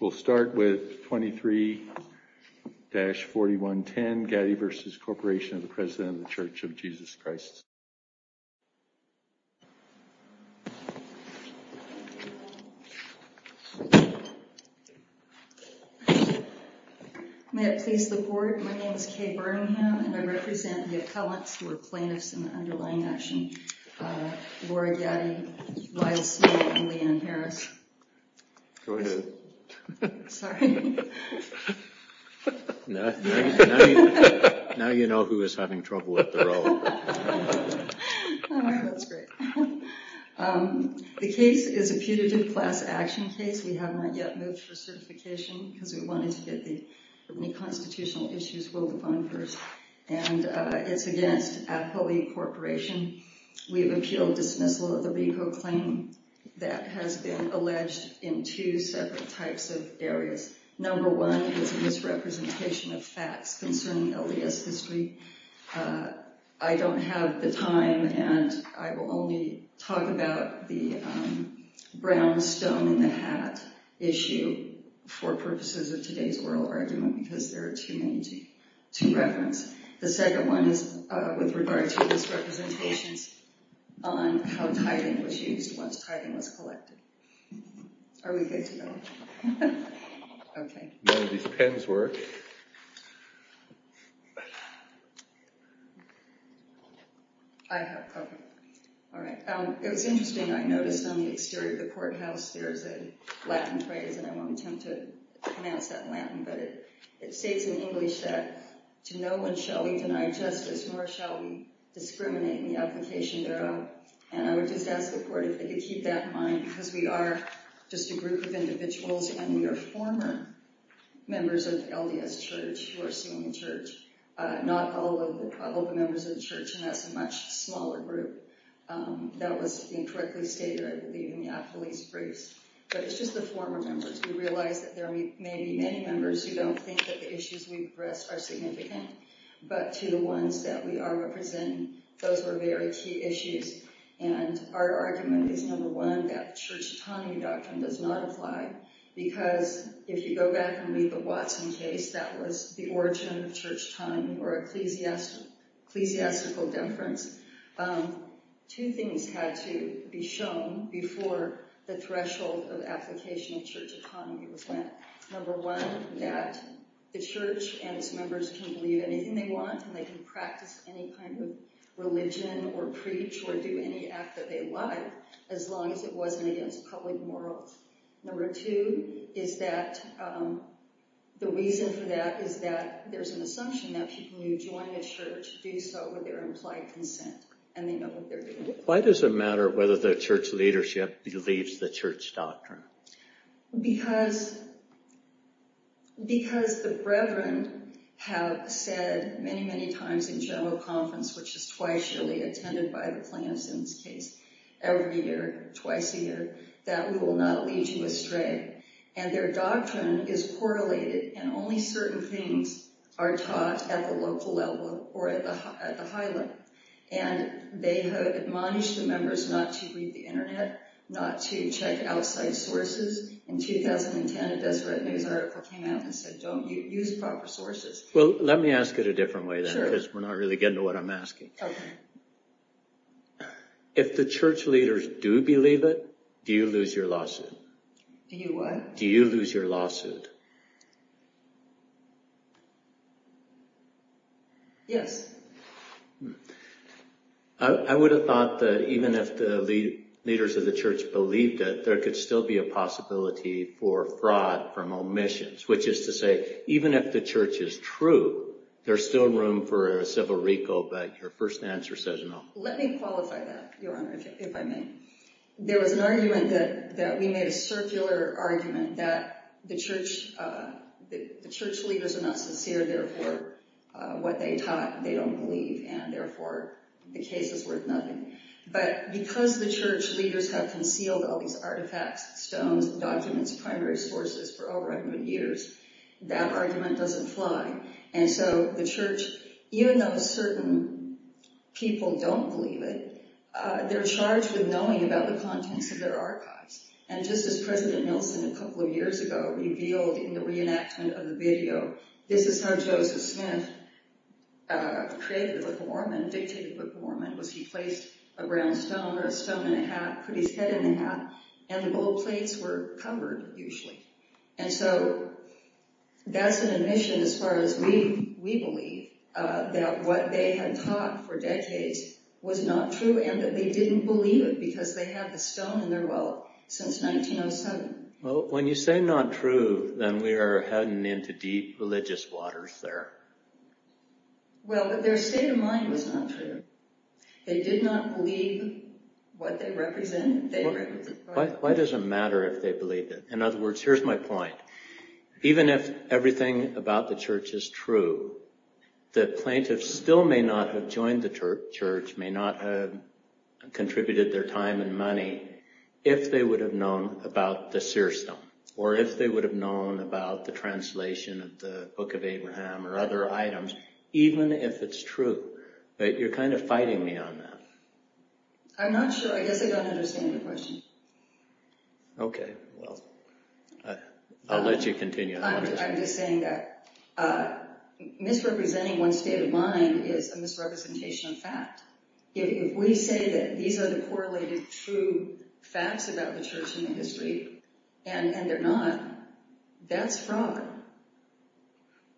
We'll start with 23-4110, Gaddy v. Corp. of the President of the Church of Jesus Christ. May it please the Board, my name is Kay Birmingham and I represent the plaintiffs in the underlying action. Laura Gaddy, Lyle Smith, and Leanne Harris. The case is a putative class action case. We have not yet moved for certification because we wanted to get the constitutional issues voted on first. It's against Apoie Corporation. We have appealed dismissal of the RICO claim that has been alleged in two separate types of areas. Number one is a misrepresentation of facts concerning LDS history. I don't have the time and I will only talk about the brownstone in the hat issue for purposes of today's oral argument because there are too many to reference. The second one is with regard to misrepresentations on how tithing was used once tithing was collected. Are we good to go? All right. It was interesting. I noticed on the exterior of the courthouse there's a Latin phrase and I won't attempt to pronounce that in Latin, but it states in English that to no one shall we deny justice nor shall we discriminate in the application thereof. And I would just ask the Board if they could keep that in mind because we are just a group of individuals and we are former members of LDS Church who are suing the Church, not all of the members of the Church, and that's a much smaller group. That was incorrectly stated, I believe, in the appellee's briefs, but it's just the former members. We realize that there may be many members who don't think that the issues we address are significant, but to the ones that we are representing, those were very key issues. And our argument is, number one, that Church tithing doctrine does not apply because if you go back and read the Watson case, that was the origin of Church tithing or ecclesiastical difference. Two things had to be shown before the threshold of application of Church economy was met. Number one, that the Church and its members can believe anything they want and they can practice any kind of religion or preach or do any act that they like as long as it wasn't against public morals. Number two is that the reason for that is that there's an assumption that people who join the Church do so with their implied consent and they know what they're doing. Why does it matter whether the Church leadership believes the Church doctrine? Because the Brethren have said many, many times in general conference, which is twice yearly attended by the plaintiffs in this case, every year, twice a year, that we will not lead you astray. And their doctrine is correlated and only certain things are taught at the local level or at the high level. And they have admonished the members not to read the internet, not to check outside sources. In 2010, a Deseret News article came out and said, don't use proper sources. Well, let me ask it a different way then because we're not really getting to what I'm asking. If the Church leaders do believe it, do you lose your lawsuit? Do you what? Do you lose your lawsuit? Yes. I would have thought that even if the leaders of the Church believed it, there could still be a possibility for fraud from omissions, which is to say, even if the Church is true, there's still room for a civil recall. But your first answer says no. Let me qualify that, Your Honor, if I may. There was an argument that we made a circular argument that the Church leaders are not sincere, therefore what they taught they don't believe, and therefore the case is worth nothing. But because the Church leaders have concealed all these artifacts, stones, documents, primary sources for over a hundred years, that argument doesn't fly. And so the Church, even though certain people don't believe it, they're charged with knowing about the contents of their archives. And just as President Nelson a couple of years ago revealed in the reenactment of the video, this is how Joseph Smith created the Book of Mormon, dictated the Book of Mormon, was he placed a brown stone or a stone in a hat, put his head in the hat, and the gold plates were covered usually. And so that's an admission as far as we believe, that what they had taught for decades was not true and that they didn't believe it because they had the stone in their well since 1907. Well, when you say not true, then we are heading into deep religious waters there. Well, but their state of mind was not true. They did not believe what they represented. Why does it matter if they believed it? In other words, here's my point. Even if everything about the Church is true, the plaintiffs still may not have joined the Church, may not have contributed their time and money, if they would have known about the seer stone, or if they would have known about the translation of the Book of Abraham or other items, even if it's true. But you're kind of fighting me on that. I'm not sure. I guess I don't understand your question. Okay, well, I'll let you continue. I'm just saying that misrepresenting one's state of mind is a misrepresentation of fact. If we say that these are the correlated true facts about the Church and the history, and they're not, that's fraud.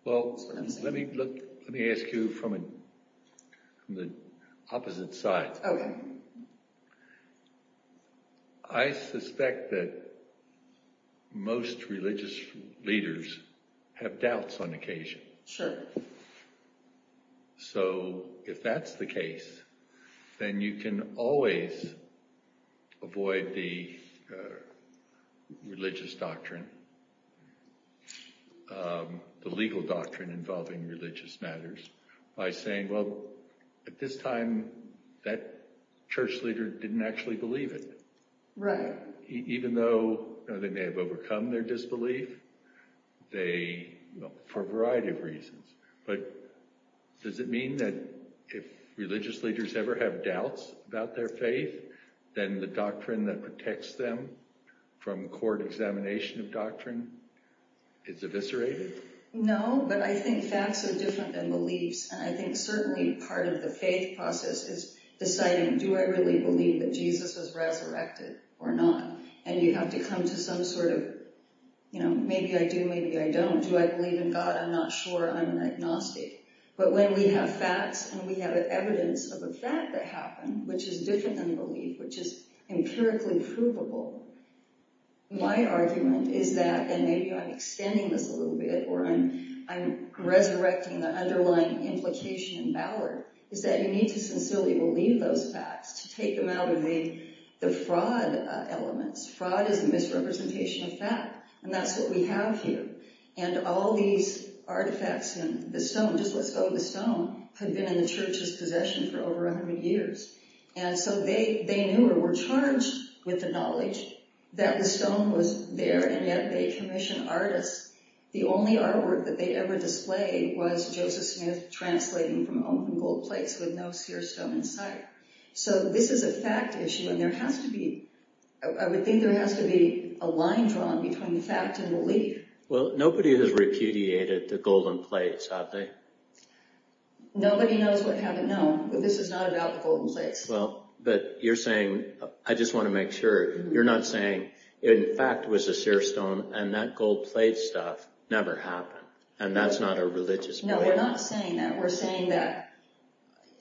Well, let me ask you from the opposite side. I suspect that most religious leaders have doubts on occasion. So if that's the case, then you can always avoid the religious doctrine. The legal doctrine involving religious matters, by saying, well, at this time, that church leader didn't actually believe it. Right. Even though they may have overcome their disbelief, for a variety of reasons. But does it mean that if religious leaders ever have doubts about their faith, then the doctrine that protects them from court examination of doctrine is eviscerated? No, but I think facts are different than beliefs. And I think certainly part of the faith process is deciding, do I really believe that Jesus was resurrected or not? And you have to come to some sort of, you know, maybe I do, maybe I don't. Do I believe in God? I'm not sure. I'm an agnostic. But when we have facts and we have evidence of a fact that happened, which is different than which is empirically provable, my argument is that, and maybe I'm extending this a little bit, or I'm resurrecting the underlying implication in Ballard, is that you need to sincerely believe those facts to take them out of the fraud elements. Fraud is a misrepresentation of fact. And that's what we have here. And all these artifacts in the stone, just let's go to the they knew or were charged with the knowledge that the stone was there, and yet they commission artists. The only artwork that they ever displayed was Joseph Smith translating from open gold plates with no seer stone in sight. So this is a fact issue, and there has to be, I would think there has to be a line drawn between the fact and belief. Well, nobody has repudiated the golden plates, have they? Nobody knows what haven't known, but this is not about the golden plates. Well, but you're saying, I just want to make sure, you're not saying, in fact, it was a seer stone and that gold plate stuff never happened, and that's not a religious belief? No, we're not saying that. We're saying that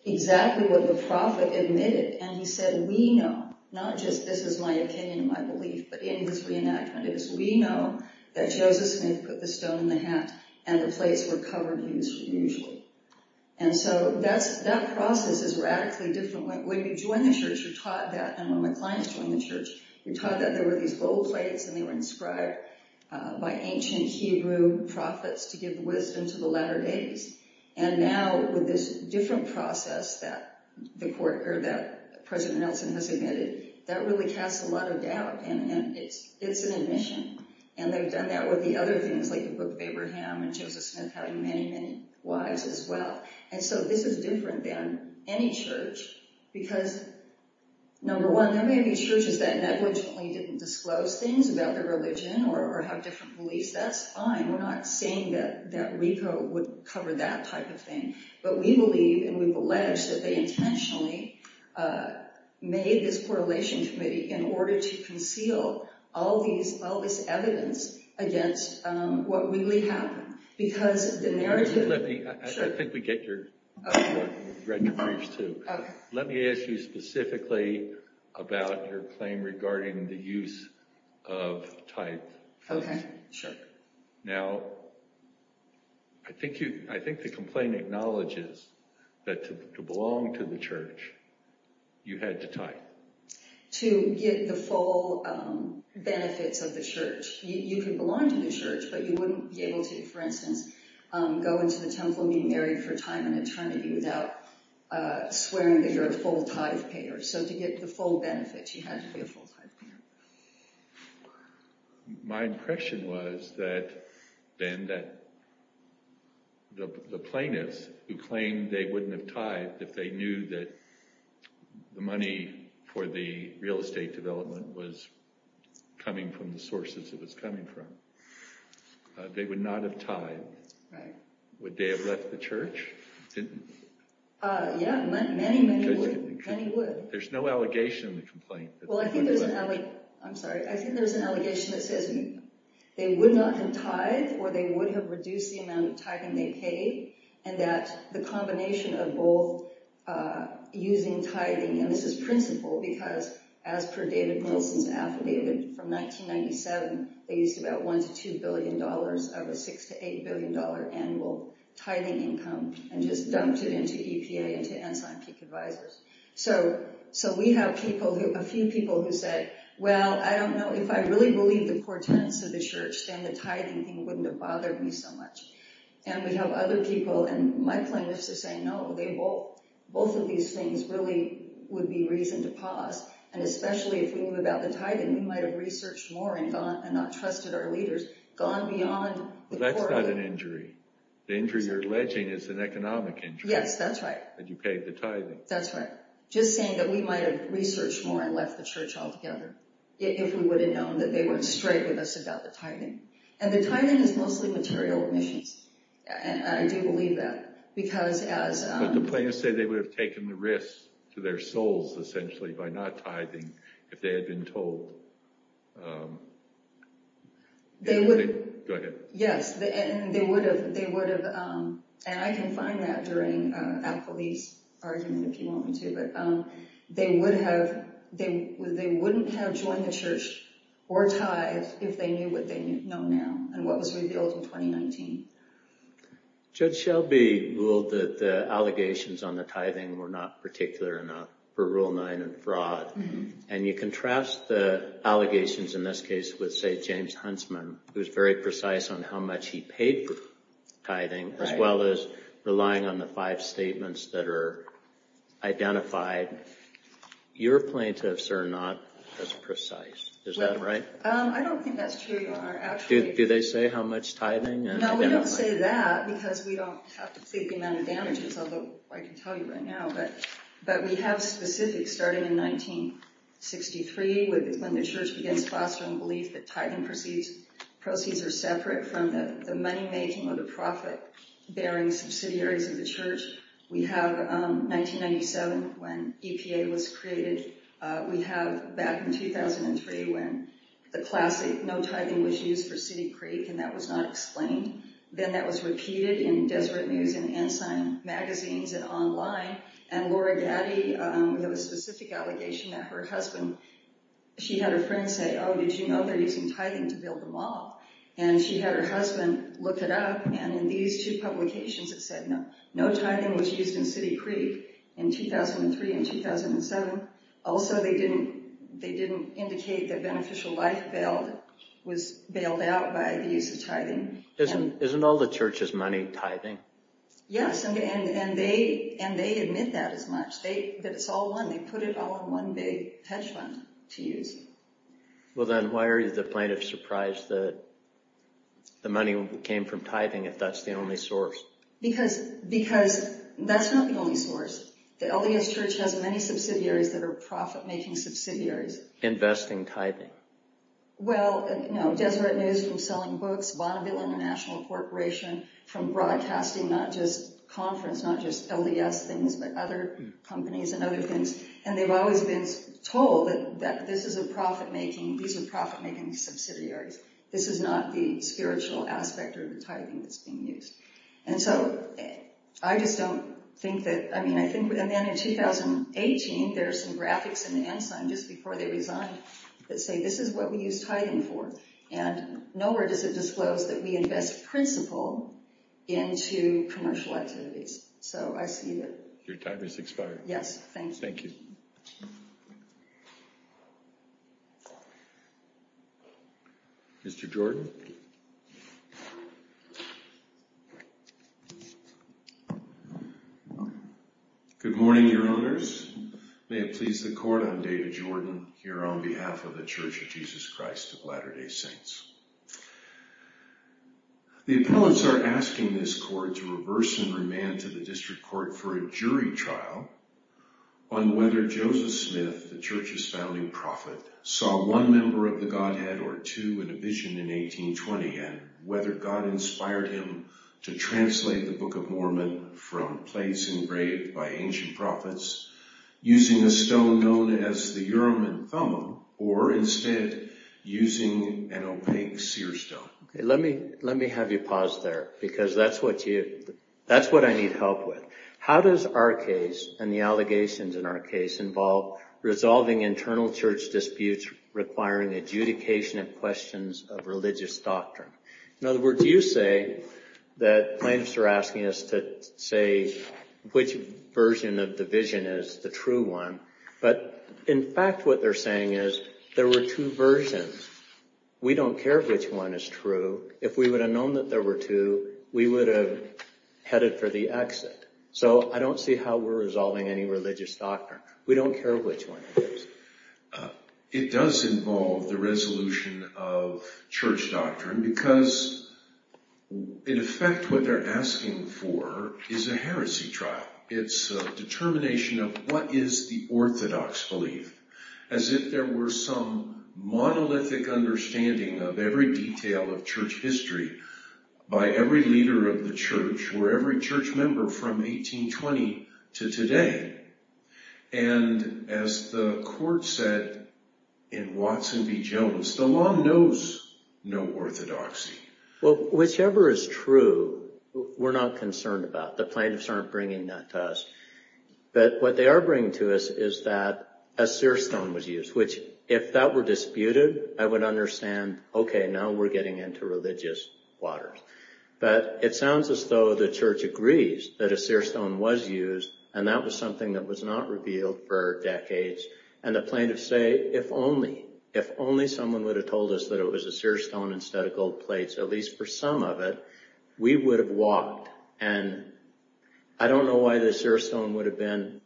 exactly what the Prophet admitted, and he said, we know, not just this is my opinion, my belief, but in his reenactment is, we know that Joseph Smith put the stone in the hat and the plates were covered as usual. And so that process is radically different. When you join the church, you're taught that, and when my clients join the church, you're taught that there were these gold plates, and they were inscribed by ancient Hebrew prophets to give wisdom to the latter days, and now with this different process that President Nelson has admitted, that really casts a lot of doubt, and it's an admission, and they've done that with the other things, the book of Abraham, and Joseph Smith having many, many wives as well, and so this is different than any church, because number one, there may be churches that negligently didn't disclose things about their religion or have different beliefs. That's fine. We're not saying that Rico would cover that type of thing, but we believe, and we've alleged, that they intentionally made this correlation committee in order to conceal all this evidence against what really happened, because the narrative... Let me, I think we get your point. You've read the briefs too. Okay. Let me ask you specifically about your claim regarding the use of type. Okay, sure. Now, I think the complaint acknowledges that to belong to the church, you had to type. To get the full benefits of the church, you could belong to the church, but you wouldn't be able to, for instance, go into the temple and be married for time and eternity without swearing that you're a full-type payer, so to get the full benefits, you had to be a full-type payer. My impression was that, Ben, that the plaintiffs who claimed they wouldn't have tithed if they knew that the money for the real estate development was coming from the sources it was coming from, they would not have tithed. Would they have left the church? Yeah, many, many would. Many would. There's no allegation in the complaint. Well, I think there's an... I'm sorry. I think there's an allegation that says they would not have tithed, or they would have reduced the amount of tithing they paid, and that the combination of both using tithing, and this is principal because, as per David Wilson's affidavit from 1997, they used about $1 to $2 billion of a $6 to $8 billion annual tithing income and just dumped it into EPA and to Enzyme Peak Advisors. So we have people who... a few people who said, well, I don't know. If I really believed the core tenets of the church, then the tithing thing wouldn't have bothered me so much. And we have other people, and my claim is to say, no, both of these things really would be reason to pause. And especially if we knew about the tithing, we might have researched more and gone and not trusted our leaders, gone beyond... That's not an injury. The injury you're alleging is an economic injury. Yes, that's right. That you paid the tithing. That's right. Just saying that we might have researched more and left the church altogether, if we would have known that they weren't straight with us about the tithing. And the tithing is mostly material emissions. And I do believe that. Because as... But the plaintiffs say they would have taken the risk to their souls, essentially, by not tithing if they had been told. They would... Go ahead. Yes, and they would have... And I can find that during Al-Khalili's argument, if you want me to. But they wouldn't have joined the church or tithe if they knew what they knew. And what was revealed in 2019. Judge Shelby ruled that the allegations on the tithing were not particular enough for Rule 9 and fraud. And you contrast the allegations in this case with, say, James Huntsman, who's very precise on how much he paid for tithing, as well as relying on the five statements that are identified. Your plaintiffs are not as precise. Is that right? I don't think that's true. Do they say how much tithing? No, we don't say that because we don't have to say the amount of damages, although I can tell you right now. But we have specifics starting in 1963, when the church begins fostering belief that tithing proceeds are separate from the money-making or the profit-bearing subsidiaries of the church. We have 1997, when EPA was created. We have back in 2003, when the classic no tithing was used for City Creek, and that was not explained. Then that was repeated in Deseret News and Ensign magazines and online. And Laura Gaddy, we have a specific allegation that her husband, she had a friend say, oh, did you know they're using tithing to build the mall? And she had her husband look it up, and in these two publications, it said, no, no tithing was used in City Creek in 2003 and 2007. Also, they didn't indicate that Beneficial Life was bailed out by the use of tithing. Isn't all the church's money tithing? Yes, and they admit that as much, that it's all one. They put it all in one big hedge fund to use. Well, then why are you the plaintiff surprised that the money came from tithing, if that's the only source? Because that's not the only source. The LDS Church has many subsidiaries that are profit-making subsidiaries. Investing tithing. Well, you know, Deseret News from selling books, Bonneville International Corporation from broadcasting, not just conference, not just LDS things, but other companies and other things. And they've always been told that this is a profit-making, these are profit-making subsidiaries. This is not the spiritual aspect or the tithing that's being used. And so I just don't think that, I mean, I think, and then in 2018, there are some graphics in the Ensign just before they resigned that say this is what we use tithing for. And nowhere does it disclose that we invest principal into commercial activities. So I see that. Your time has expired. Yes, thank you. Mr. Jordan. Good morning, your owners. May it please the court, I'm David Jordan, here on behalf of the Church of Jesus Christ of Latter-day Saints. The appellants are asking this court to reverse and remand to the district court for a jury trial on whether Joseph Smith, the church's founding prophet, saw one member of the Godhead or two in a vision in 1820, and whether God inspired him to translate the Book of Mormon from place engraved by ancient prophets using a stone known as the Urim and Thummim, or instead using an opaque seer stone. Let me have you pause there, because that's what I need help with. How does our case and the allegations in our case involve resolving internal church disputes requiring adjudication of questions of religious doctrine? In other words, you say that plaintiffs are asking us to say which version of the vision is the true one, but in fact what they're saying is there were two versions. We don't care which one is true. If we would have known that there were two, we would have headed for the exit. So I don't see how we're resolving any religious doctrine. We don't care which one it is. It does involve the resolution of church doctrine because in effect what they're asking for is a heresy trial. It's a determination of what is the orthodox belief, as if there were some monolithic understanding of every detail of church history by every leader of the church or every church member from 1820 to today. And as the court said in Watson v. Jones, the law knows no orthodoxy. Well, whichever is true, we're not concerned about. The plaintiffs aren't bringing that to us. But what they are bringing to us is that a seer stone was used, which if that were disputed, I would understand, okay, now we're getting into religious waters. But it sounds as though the church agrees that a seer stone was used and that was something that was not revealed for decades. And the plaintiffs say, if only someone would have told us that it was a seer stone instead of gold plates, at least for some of it, we would have walked. And I don't know why the seer stone would have been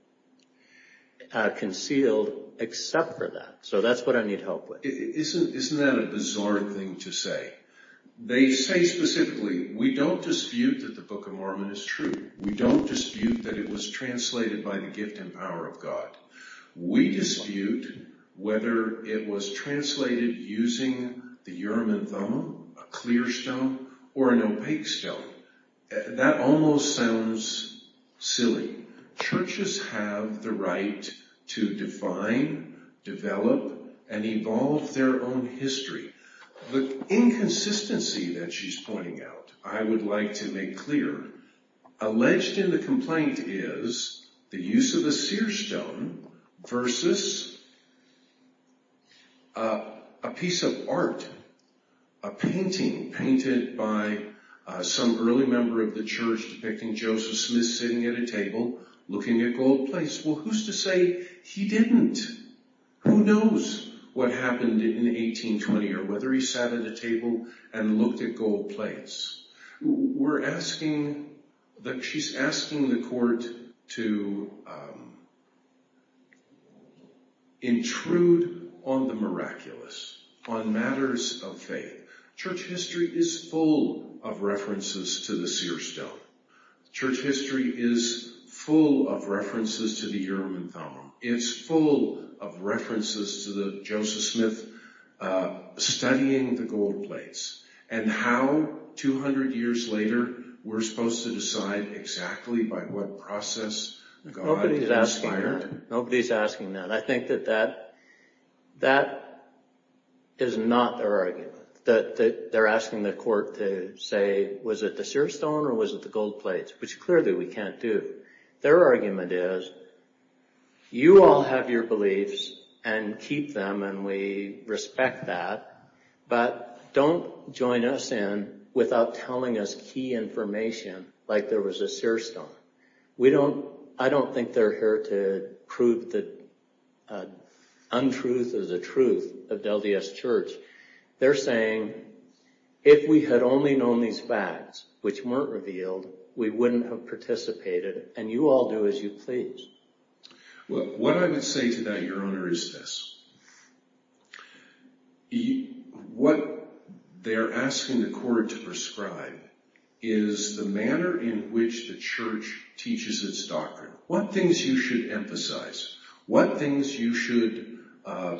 concealed except for that. So that's what I need help with. Isn't that a bizarre thing to say? They say specifically, we don't dispute that the Book of Mormon is true. We don't dispute that it was translated by the gift and power of God. We dispute whether it was translated using the Urim and Thummim, a clear stone, or an opaque stone. That almost sounds silly. Churches have the right to define, develop, and evolve their own history. The inconsistency that she's pointing out, I would like to make clear. Alleged in the complaint is the use of a seer stone versus a piece of art, a painting painted by some early member of the church depicting Joseph Smith sitting at a table looking at gold plates. Well, who's to say he didn't? Who knows what happened in 1820 or whether he sat at a table and looked at gold plates. We're asking, she's asking the court to, to intrude on the miraculous, on matters of faith. Church history is full of references to the seer stone. Church history is full of references to the Urim and Thummim. It's full of references to the Joseph Smith studying the gold plates. And how, 200 years later, we're supposed to decide exactly by what process God inspired? Nobody's asking that. I think that that, that is not their argument. That they're asking the court to say, was it the seer stone or was it the gold plates? Which clearly we can't do. Their argument is, you all have your beliefs and keep them and we respect that, but don't join us in without telling us key information like there was a seer stone. We don't, I don't think they're here to prove the untruth of the truth of Del Dios Church. They're saying, if we had only known these facts, which weren't revealed, we wouldn't have participated and you all do as you please. What I would say to that, Your Honor, is this. What they're asking the court to prescribe is the manner in which the church teaches its doctrine. What things you should emphasize? What things you should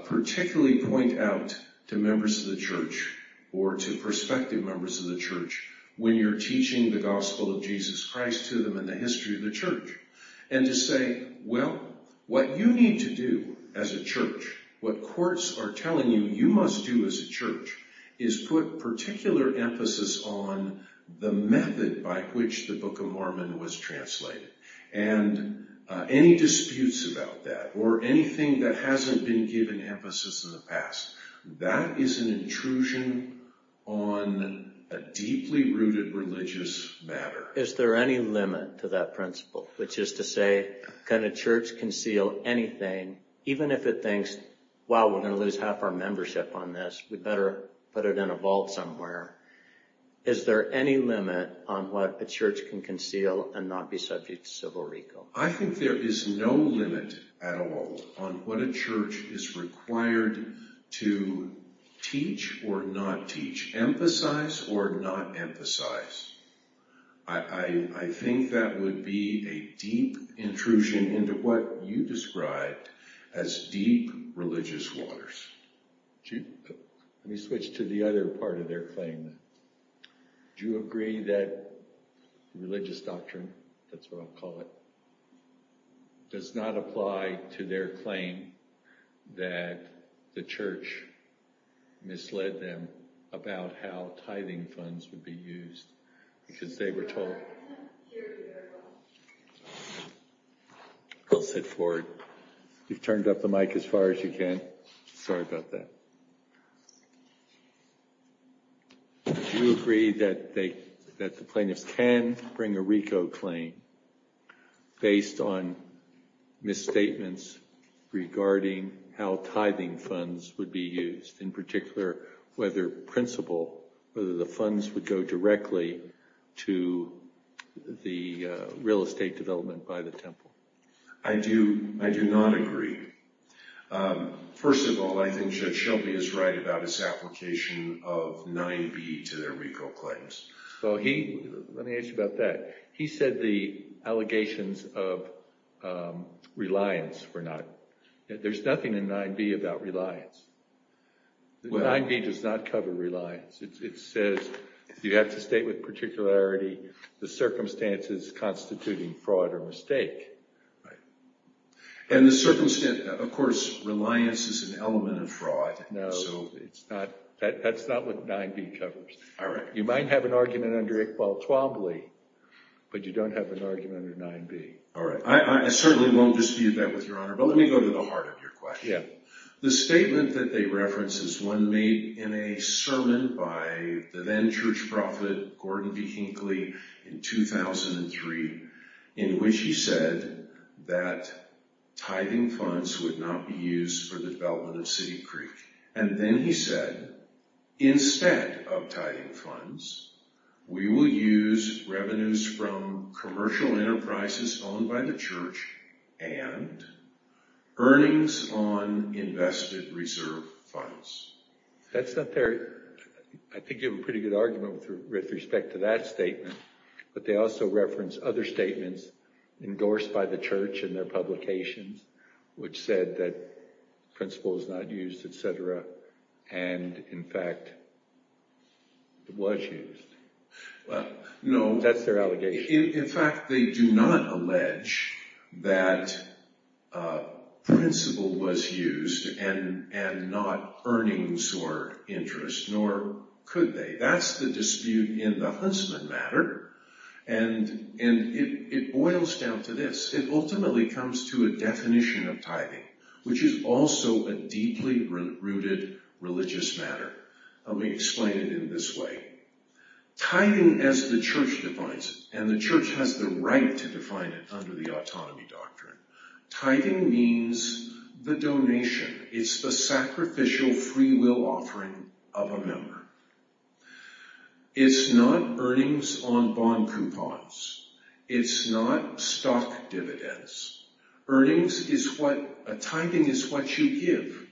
particularly point out to members of the church or to prospective members of the church when you're teaching the gospel of Jesus Christ to them and the history of the church? And to say, well, what you need to do as a church, what courts are telling you you must do as a church is put particular emphasis on the method by which the Book of Mormon was translated and any disputes about that or anything that hasn't been given emphasis in the past. That is an intrusion on a deeply rooted religious matter. Is there any limit to that principle? Which is to say, can a church conceal anything, even if it thinks, wow, we're going to lose half our membership on this. We better put it in a vault somewhere. Is there any limit on what a church can conceal and not be subject to civil recall? I think there is no limit at all on what a church is required to teach or not teach. Emphasize or not emphasize. I think that would be a deep intrusion into what you described as deep religious waters. Let me switch to the other part of their claim. Do you agree that religious doctrine, that's what I'll call it, does not apply to their claim that the church misled them about how tithing funds would be used because they were told... I'll sit forward. You've turned up the mic as far as you can. Sorry about that. Do you agree that the plaintiffs can bring a RICO claim based on misstatements regarding how tithing funds would be used, in particular, whether the funds would go directly to the real estate development by the temple? I do not agree. First of all, I think Judge Shelby is right about his application of 9B to their RICO claims. Let me ask you about that. He said the allegations of reliance were not... There's nothing in 9B about reliance. 9B does not cover reliance. It says you have to state with particularity the circumstances constituting fraud or mistake. Of course, reliance is an element of fraud. That's not what 9B covers. You might have an argument under Iqbal Twombly, but you don't have an argument under 9B. All right. I certainly won't dispute that with Your Honor, but let me go to the heart of your question. The statement that they reference is one made in a sermon by the then-church prophet Gordon B. Hinckley in 2003, in which he said that tithing funds would not be used for the development of City Creek. And then he said, instead of tithing funds, we will use revenues from commercial enterprises owned by the church and earnings on invested reserve funds. That's not their... I think you have a pretty good argument with respect to that statement, but they also reference other statements endorsed by the church in their publications, which said that principle is not used, etc. And in fact, it was used. No, that's their allegation. In fact, they do not allege that principle was used and not earnings or interest, nor could they. That's the dispute in the Huntsman matter. And it boils down to this. It ultimately comes to a definition of tithing, which is also a deeply rooted religious matter. We explain it in this way. Tithing as the church defines it, and the church has the right to define it under the autonomy doctrine. Tithing means the donation. It's the sacrificial freewill offering of a member. It's not earnings on bond coupons. It's not stock dividends. Earnings is what... A tithing is what you give.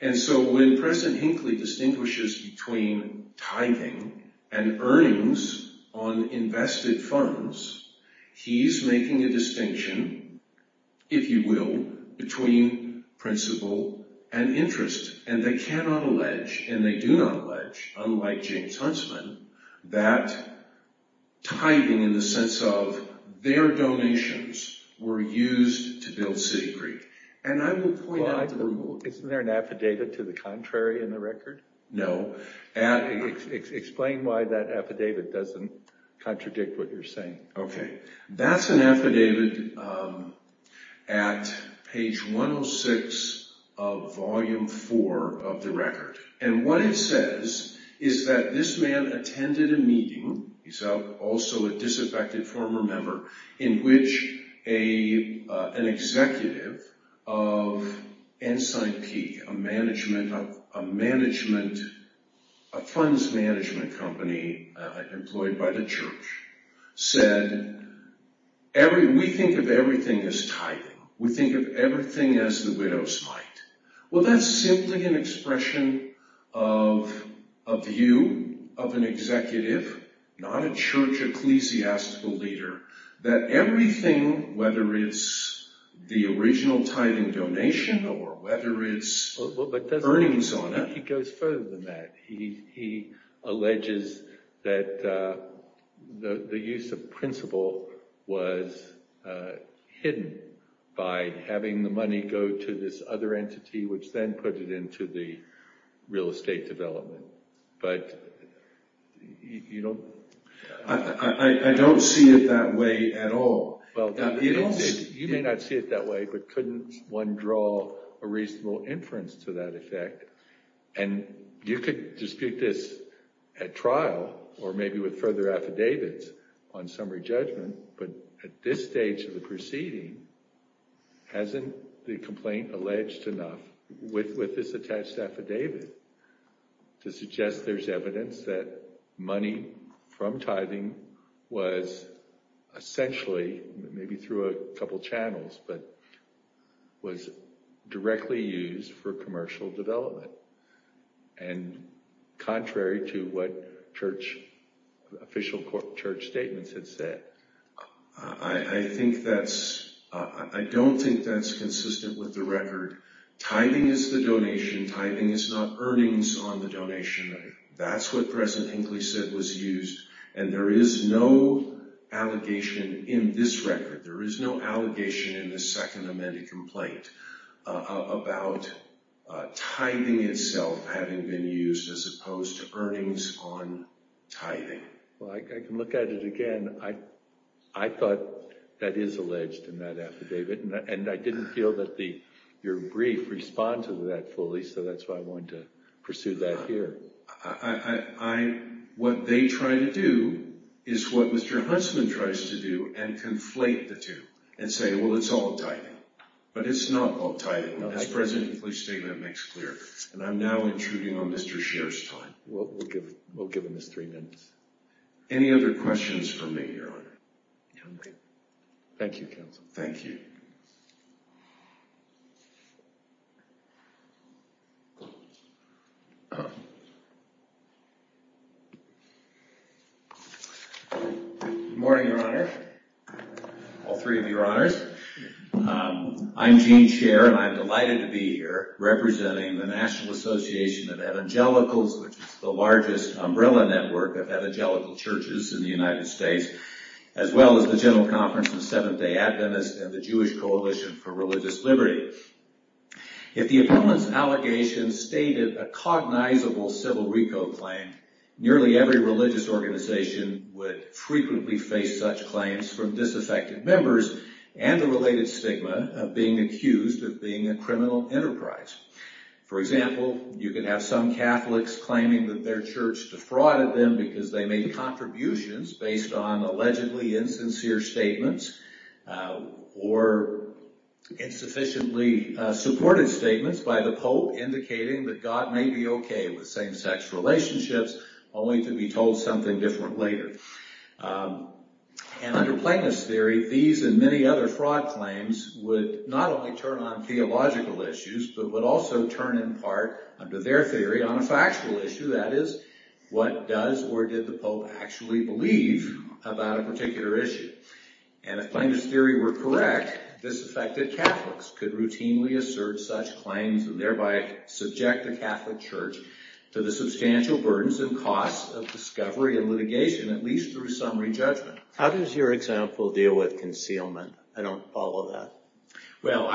And so when President Hinckley distinguishes between tithing and earnings on invested funds, he's making a distinction, if you will, between principle and interest. And they cannot allege, and they do not allege, unlike James Huntsman, that tithing in the sense of their donations were used to build Citigroup. And I will point out... Well, isn't there an affidavit to the contrary in the record? No. Explain why that affidavit doesn't contradict what you're saying. Okay. That's an affidavit at page 106 of volume four of the record. And what it says is that this man attended a meeting. He's also a disaffected former member in which an executive of Ensign Peak, a funds management company employed by the church, said, we think of everything as tithing. We think of everything as the widow's mite. Well, that's simply an expression of a view of an executive, not a church ecclesiastical leader, that everything, whether it's the original tithing donation or whether it's earnings on it... He goes further than that. He alleges that the use of principle was hidden by having the money go to this other entity, which then put it into the real estate development. But you don't... I don't see it that way at all. Well, you may not see it that way, but couldn't one draw a reasonable inference to that effect? And you could dispute this at trial or maybe with further affidavits on summary judgment. But at this stage of the proceeding, hasn't the complaint alleged enough with this attached affidavit to suggest there's evidence that money from tithing was essentially, maybe through a couple channels, but was directly used for commercial development. And contrary to what church official court statements had said. I think that's... I don't think that's consistent with the record. Tithing is the donation. Tithing is not earnings on the donation. That's what President Hinckley said was used. And there is no allegation in this record. There is no allegation in this second amended complaint about tithing itself having been used as opposed to earnings on tithing. Well, I can look at it again. I thought that is alleged in that affidavit. And I didn't feel that your brief responded to that fully. So that's why I wanted to pursue that here. What they try to do is what Mr. Huntsman tries to do and conflate the two and say, well, it's all tithing. But it's not all tithing. As President Hinckley's statement makes clear. And I'm now intruding on Mr. Sherr's time. We'll give him his three minutes. Any other questions for me, Your Honor? Thank you, Counsel. Thank you. Good morning, Your Honor. All three of your honors. I'm Gene Sherr and I'm delighted to be here representing the National Association of Evangelicals, which is the largest umbrella network of evangelical churches in the United States, as well as the General Conference of Seventh-day Adventists and the Jewish Coalition for Religious Liberty. If the opponent's allegations stated a cognizable civil recall claim, nearly every religious organization would frequently face such claims from disaffected members and the related stigma of being accused of being a criminal enterprise. For example, you could have some Catholics claiming that their church defrauded them because they made contributions based on allegedly insincere statements or insufficiently supported statements by the Pope indicating that God may be okay with same-sex relationships only to be told something different later. And under Plainness Theory, these and many other fraud claims would not only turn on theological issues but would also turn in part, under their theory, on a factual issue, that is, what does or did the Pope actually believe about a particular issue? And if Plainness Theory were correct, disaffected Catholics could routinely assert such claims and thereby subject the Catholic Church to the substantial burdens and costs of discovery and litigation, at least through summary judgment. How does your example deal with concealment? I don't follow that. Well,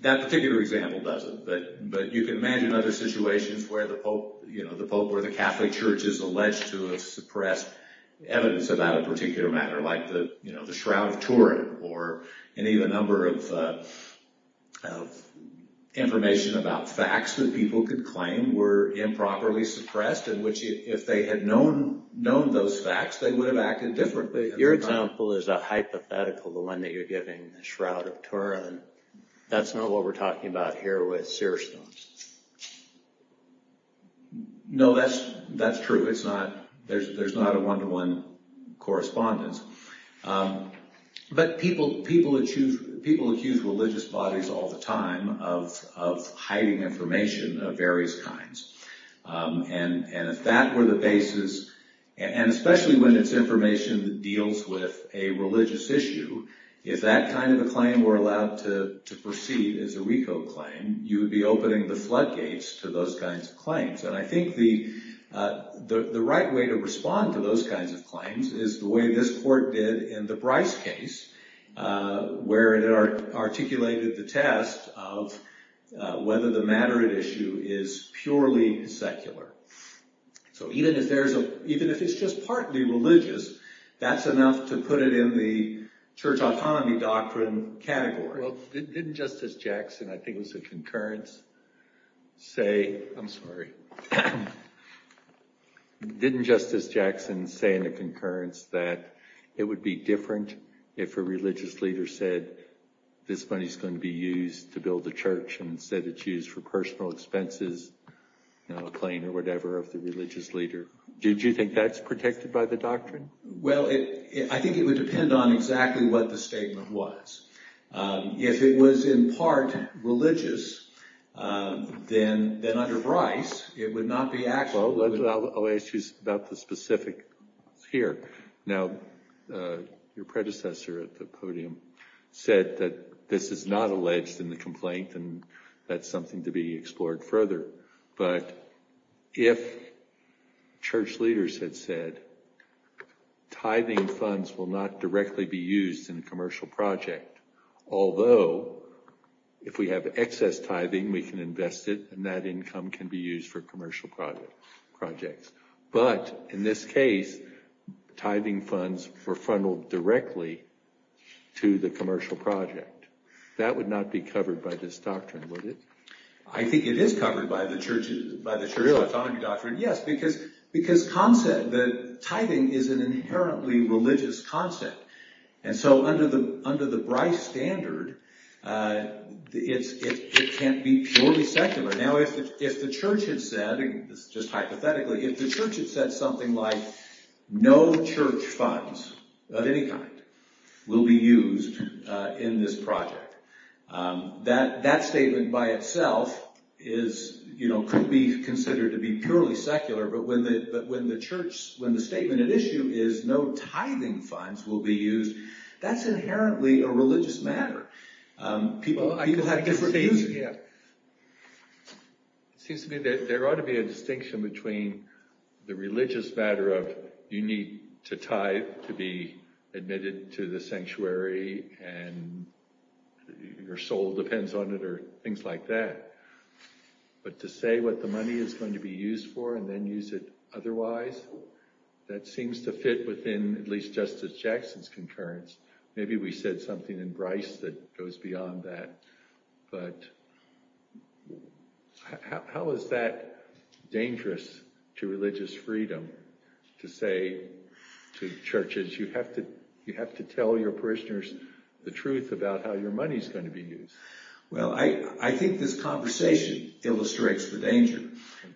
that particular example doesn't, but you can imagine other situations where the Pope or the Catholic Church is alleged to have suppressed evidence about a particular matter, like the Shroud of Turin or an even number of information about facts that people could claim were improperly suppressed in which, if they had known those facts, they would have acted differently. Your example is a hypothetical, the one that you're giving, the Shroud of Turin. That's not what we're talking about here with seer stones. No, that's true. It's not, there's not a one-to-one correspondence. But people accuse religious bodies all the time of hiding information of various kinds. And if that were the basis, and especially when it's information that deals with a religious issue, if that kind of a claim were allowed to proceed as a RICO claim, you would be opening the floodgates to those kinds of claims. And I think the right way to respond to those kinds of claims is the way this court did in the Bryce case, where it articulated the test of whether the matter at issue is purely secular. So even if it's just partly religious, that's enough to put it in the church autonomy doctrine category. Well, didn't Justice Jackson, I think it was a concurrence, say, I'm sorry. Didn't Justice Jackson say in a concurrence that it would be different if a religious leader said, this money is going to be used to build a church, and said it's used for personal expenses, you know, a claim or whatever of the religious leader. Did you think that's protected by the doctrine? Well, I think it would depend on exactly what the statement was. If it was in part religious, then under Bryce, it would not be actually- Well, I'll ask you about the specific here. Now, your predecessor at the podium said that this is not alleged in the complaint, and that's something to be explored further. But if church leaders had said, tithing funds will not directly be used in a commercial project, although if we have excess tithing, we can invest it, and that income can be used for commercial projects. But in this case, tithing funds were funneled directly to the commercial project. That would not be covered by this doctrine, would it? I think it is covered by the Sharia Autonomy Doctrine, yes, because concept, that tithing is an inherently religious concept. And so, under the Bryce standard, it can't be purely secular. Now, if the church had said, just hypothetically, if the church had said something like, no church funds of any kind will be used in this project, that statement by itself could be considered to be purely secular, but when the church, when the statement at issue is no tithing funds will be used, that's inherently a religious matter. People have different views. Yeah. It seems to me that there ought to be a distinction between the religious matter of you need to tithe to be admitted to the sanctuary, and your soul depends on it, or things like that, but to say what the money is going to be used for and then use it otherwise, that seems to fit within at least Justice Jackson's concurrence. Maybe we said something in Bryce that goes beyond that, but how is that dangerous to religious freedom to say to churches, you have to tell your parishioners the truth about how your money's going to be used? Well, I think this conversation illustrates the danger,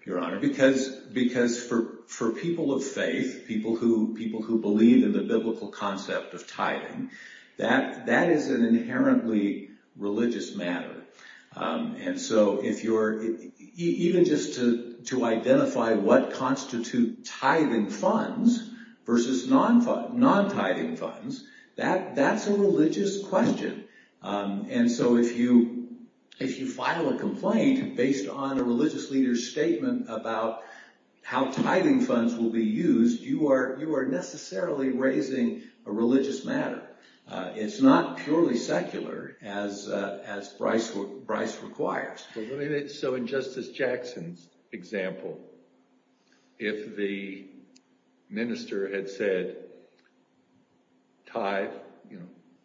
Your Honor, because for people of faith, people who believe in the biblical concept of tithing, that is an inherently religious matter, and so even just to identify what constitute tithing funds versus non-tithing funds, that's a religious question, and so if you file a complaint based on a religious leader's statement about how tithing funds will be used, you are necessarily raising a religious matter. It's not purely secular as Bryce requires. So in Justice Jackson's example, if the minister had said, tithe,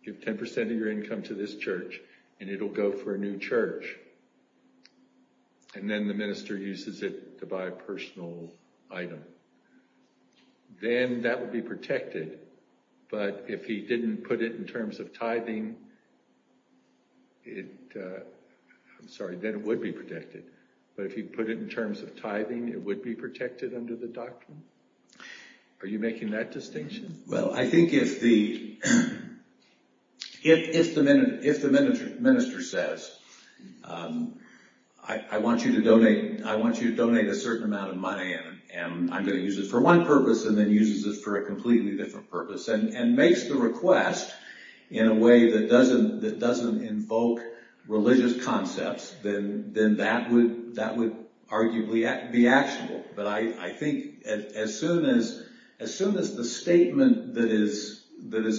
give 10% of your income to this church, and it'll go for a new church, and then the minister uses it to buy a personal item, then that would be protected, but if he didn't put it in terms of tithing, it, I'm sorry, then it would be protected, but if he put it in terms of tithing, it would be protected under the doctrine? Are you making that distinction? Well, I think if the, if the minister says, I want you to donate, I want you to donate a certain amount of money, and I'm gonna use it for one purpose, and then uses it for a completely different purpose, and makes the request in a way that doesn't invoke religious concepts, then that would arguably be actionable, but I think as soon as the statement that is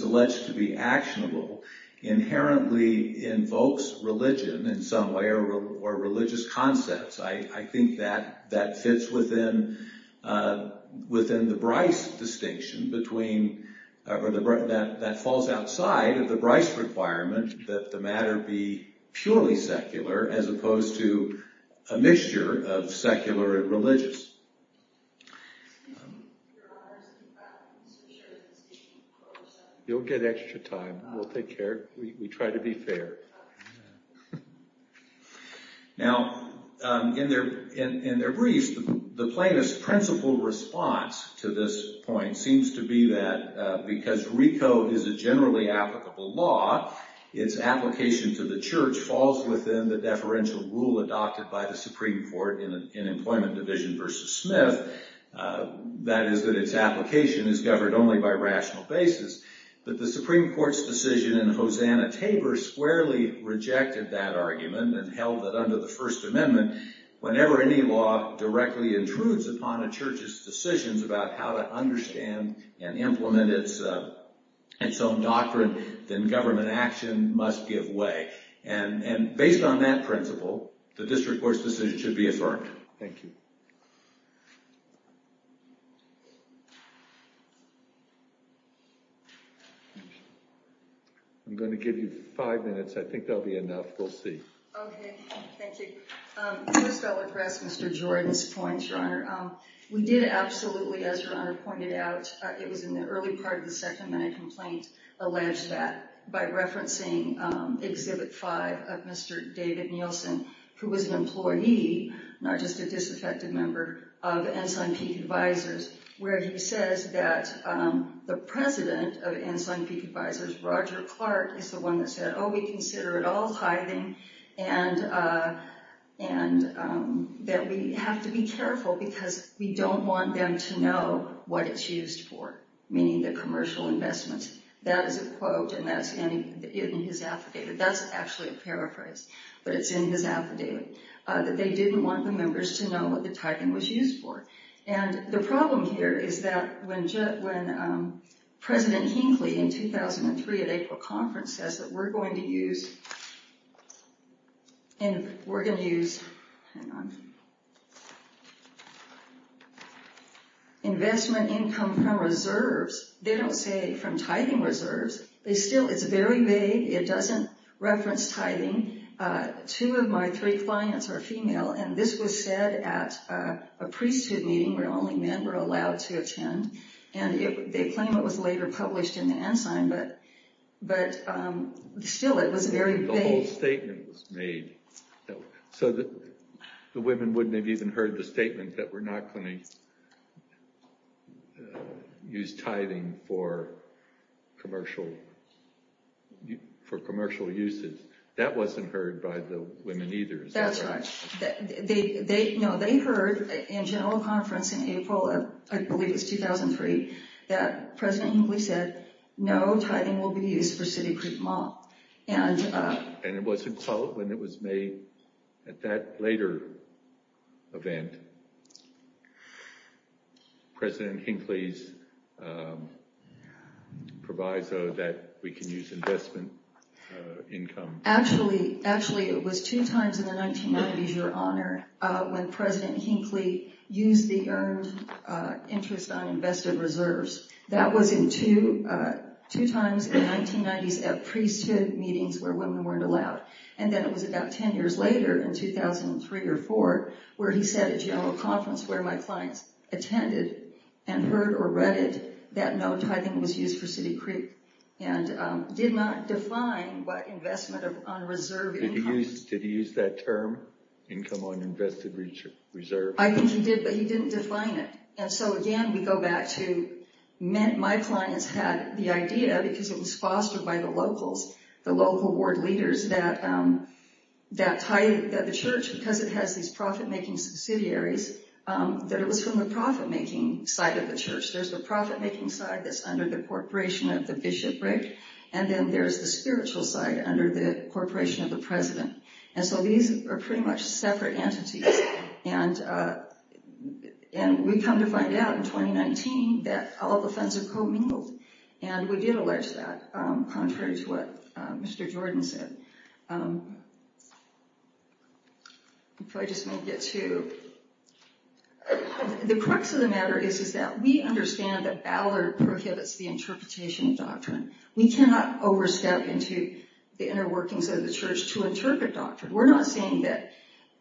alleged to be actionable inherently invokes religion in some way, or religious concepts, I think that fits within the Bryce distinction between, that falls outside of the Bryce requirement that the matter be purely secular, as opposed to a mixture of secular and religious. You'll get extra time. We'll take care. We try to be fair. Now, in their briefs, the plaintiff's principle response to this point seems to be that because RICO is a generally applicable law, its application to the church falls within the deferential rule adopted by the Supreme Court in Employment Division versus Smith, that is that its application is governed only by rational basis, but the Supreme Court's decision in Hosanna-Tabor squarely rejected that argument and held that under the First Amendment, whenever any law directly intrudes upon a church's decisions about how to understand and implement its own doctrine, then government action must give way, and based on that principle, the district court's decision should be affirmed. Thank you. I'm going to give you five minutes. I think that'll be enough. We'll see. OK. Thank you. First, I'll address Mr. Jordan's points, Your Honor. We did absolutely, as Your Honor pointed out, it was in the early part of the second minute complaint, allege that by referencing Exhibit 5 of Mr. David Nielsen, who was an employee, not just a disaffected member, of Ensign Peak Advisors, where he says that the president of Ensign Peak Advisors, Roger Clark, is the one that said, oh, we consider it all tithing and that we have to be careful because we don't want them to know what it's used for, meaning the commercial investments. That is a quote, and that's in his affidavit. That's actually a paraphrase, but it's in his affidavit, that they didn't want the members to know what the tithing was used for. The problem here is that when President Hinckley, in 2003 at April Conference, says that we're going to use investment income from reserves, they don't say from tithing reserves. It's very vague. It doesn't reference tithing. Two of my three clients are female, and this was said at a priesthood meeting where only men were allowed to attend, and they claim it was later published in the Ensign, but still it was very vague. The whole statement was made so that the women wouldn't have even heard the statement that we're not going to use tithing for commercial uses. That wasn't heard by the women either. That's right. No, they heard in general conference in April, I believe it was 2003, that President Hinckley said, no tithing will be used for City Creek Mall. It wasn't followed when it was made at that later event. President Hinckley's proviso that we can use investment income. Actually, it was two times in the 1990s, Your Honor, when President Hinckley used the earned interest on invested reserves. That was in two times in the 1990s at priesthood meetings where women weren't allowed, and then it was about 10 years later in 2003 or 4 where he said at general conference where my clients attended and heard or read it that no tithing was used for City Creek. Did not define what investment on reserve income. Did he use that term, income on invested reserves? I think he did, but he didn't define it. Again, we go back to, my clients had the idea because it was fostered by the locals, the local ward leaders that the church, because it has these profit-making subsidiaries, that it was from the profit-making side of the church. There's the profit-making side that's under the corporation of the bishop, right? And then there's the spiritual side under the corporation of the president. And so these are pretty much separate entities. And we come to find out in 2019 that all the funds are co-mingled. And we did allege that, contrary to what Mr. Jordan said. The crux of the matter is that we understand that Ballard prohibits the interpretation of doctrine. We cannot overstep into the inner workings of the church to interpret doctrine. We're not saying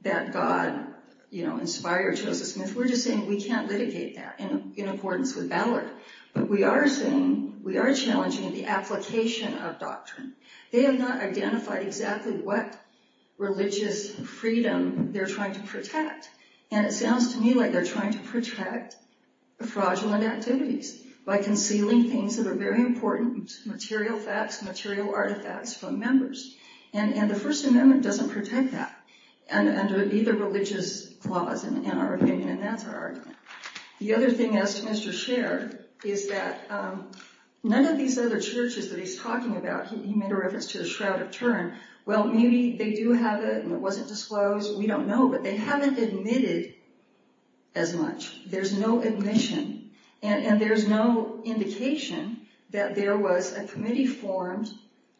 that God inspired Joseph Smith. We're just saying we can't litigate that in accordance with Ballard. But we are saying, we are challenging the application of doctrine. They have not identified exactly what religious freedom they're trying to protect. And it sounds to me like they're trying to protect fraudulent activities by concealing things that are very important, material facts, material artifacts from members. And the First Amendment doesn't protect that under either religious clause in our opinion. And that's our argument. The other thing, as to Mr. Scherr, is that none of these other churches that he's talking about, he made a reference to the Shroud of Turin. Well, maybe they do have it and it wasn't disclosed. We don't know. But they haven't admitted as much. There's no admission. And there's no indication that there was a committee formed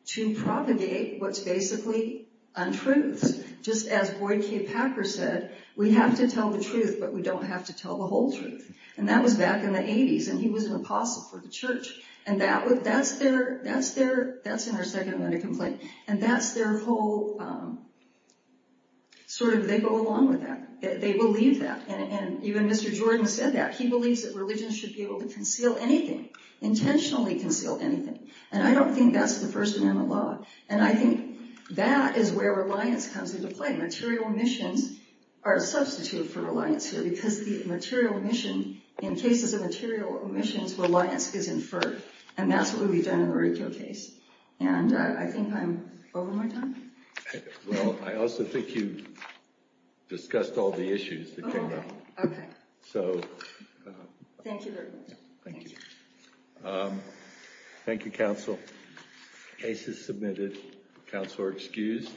to propagate what's basically untruths. Just as Boyd K. Packer said, we have to tell the truth, but we don't have to tell the whole truth. And that was back in the 80s. And he was an apostle for the church. And that's in our Second Amendment complaint. And that's their whole, sort of, they go along with that. They believe that. And even Mr. Jordan said that. He believes that religion should be able to conceal anything. Intentionally conceal anything. And I don't think that's the First Amendment law. And I think that is where reliance comes into play. Material omissions are a substitute for reliance here. Because the material omission, in cases of material omissions, reliance is inferred. And that's what would be done in the ridicule case. And I think I'm over my time. Well, I also think you've discussed all the issues. OK. Thank you very much. Thank you. Thank you, counsel. Case is submitted. Counsel are excused.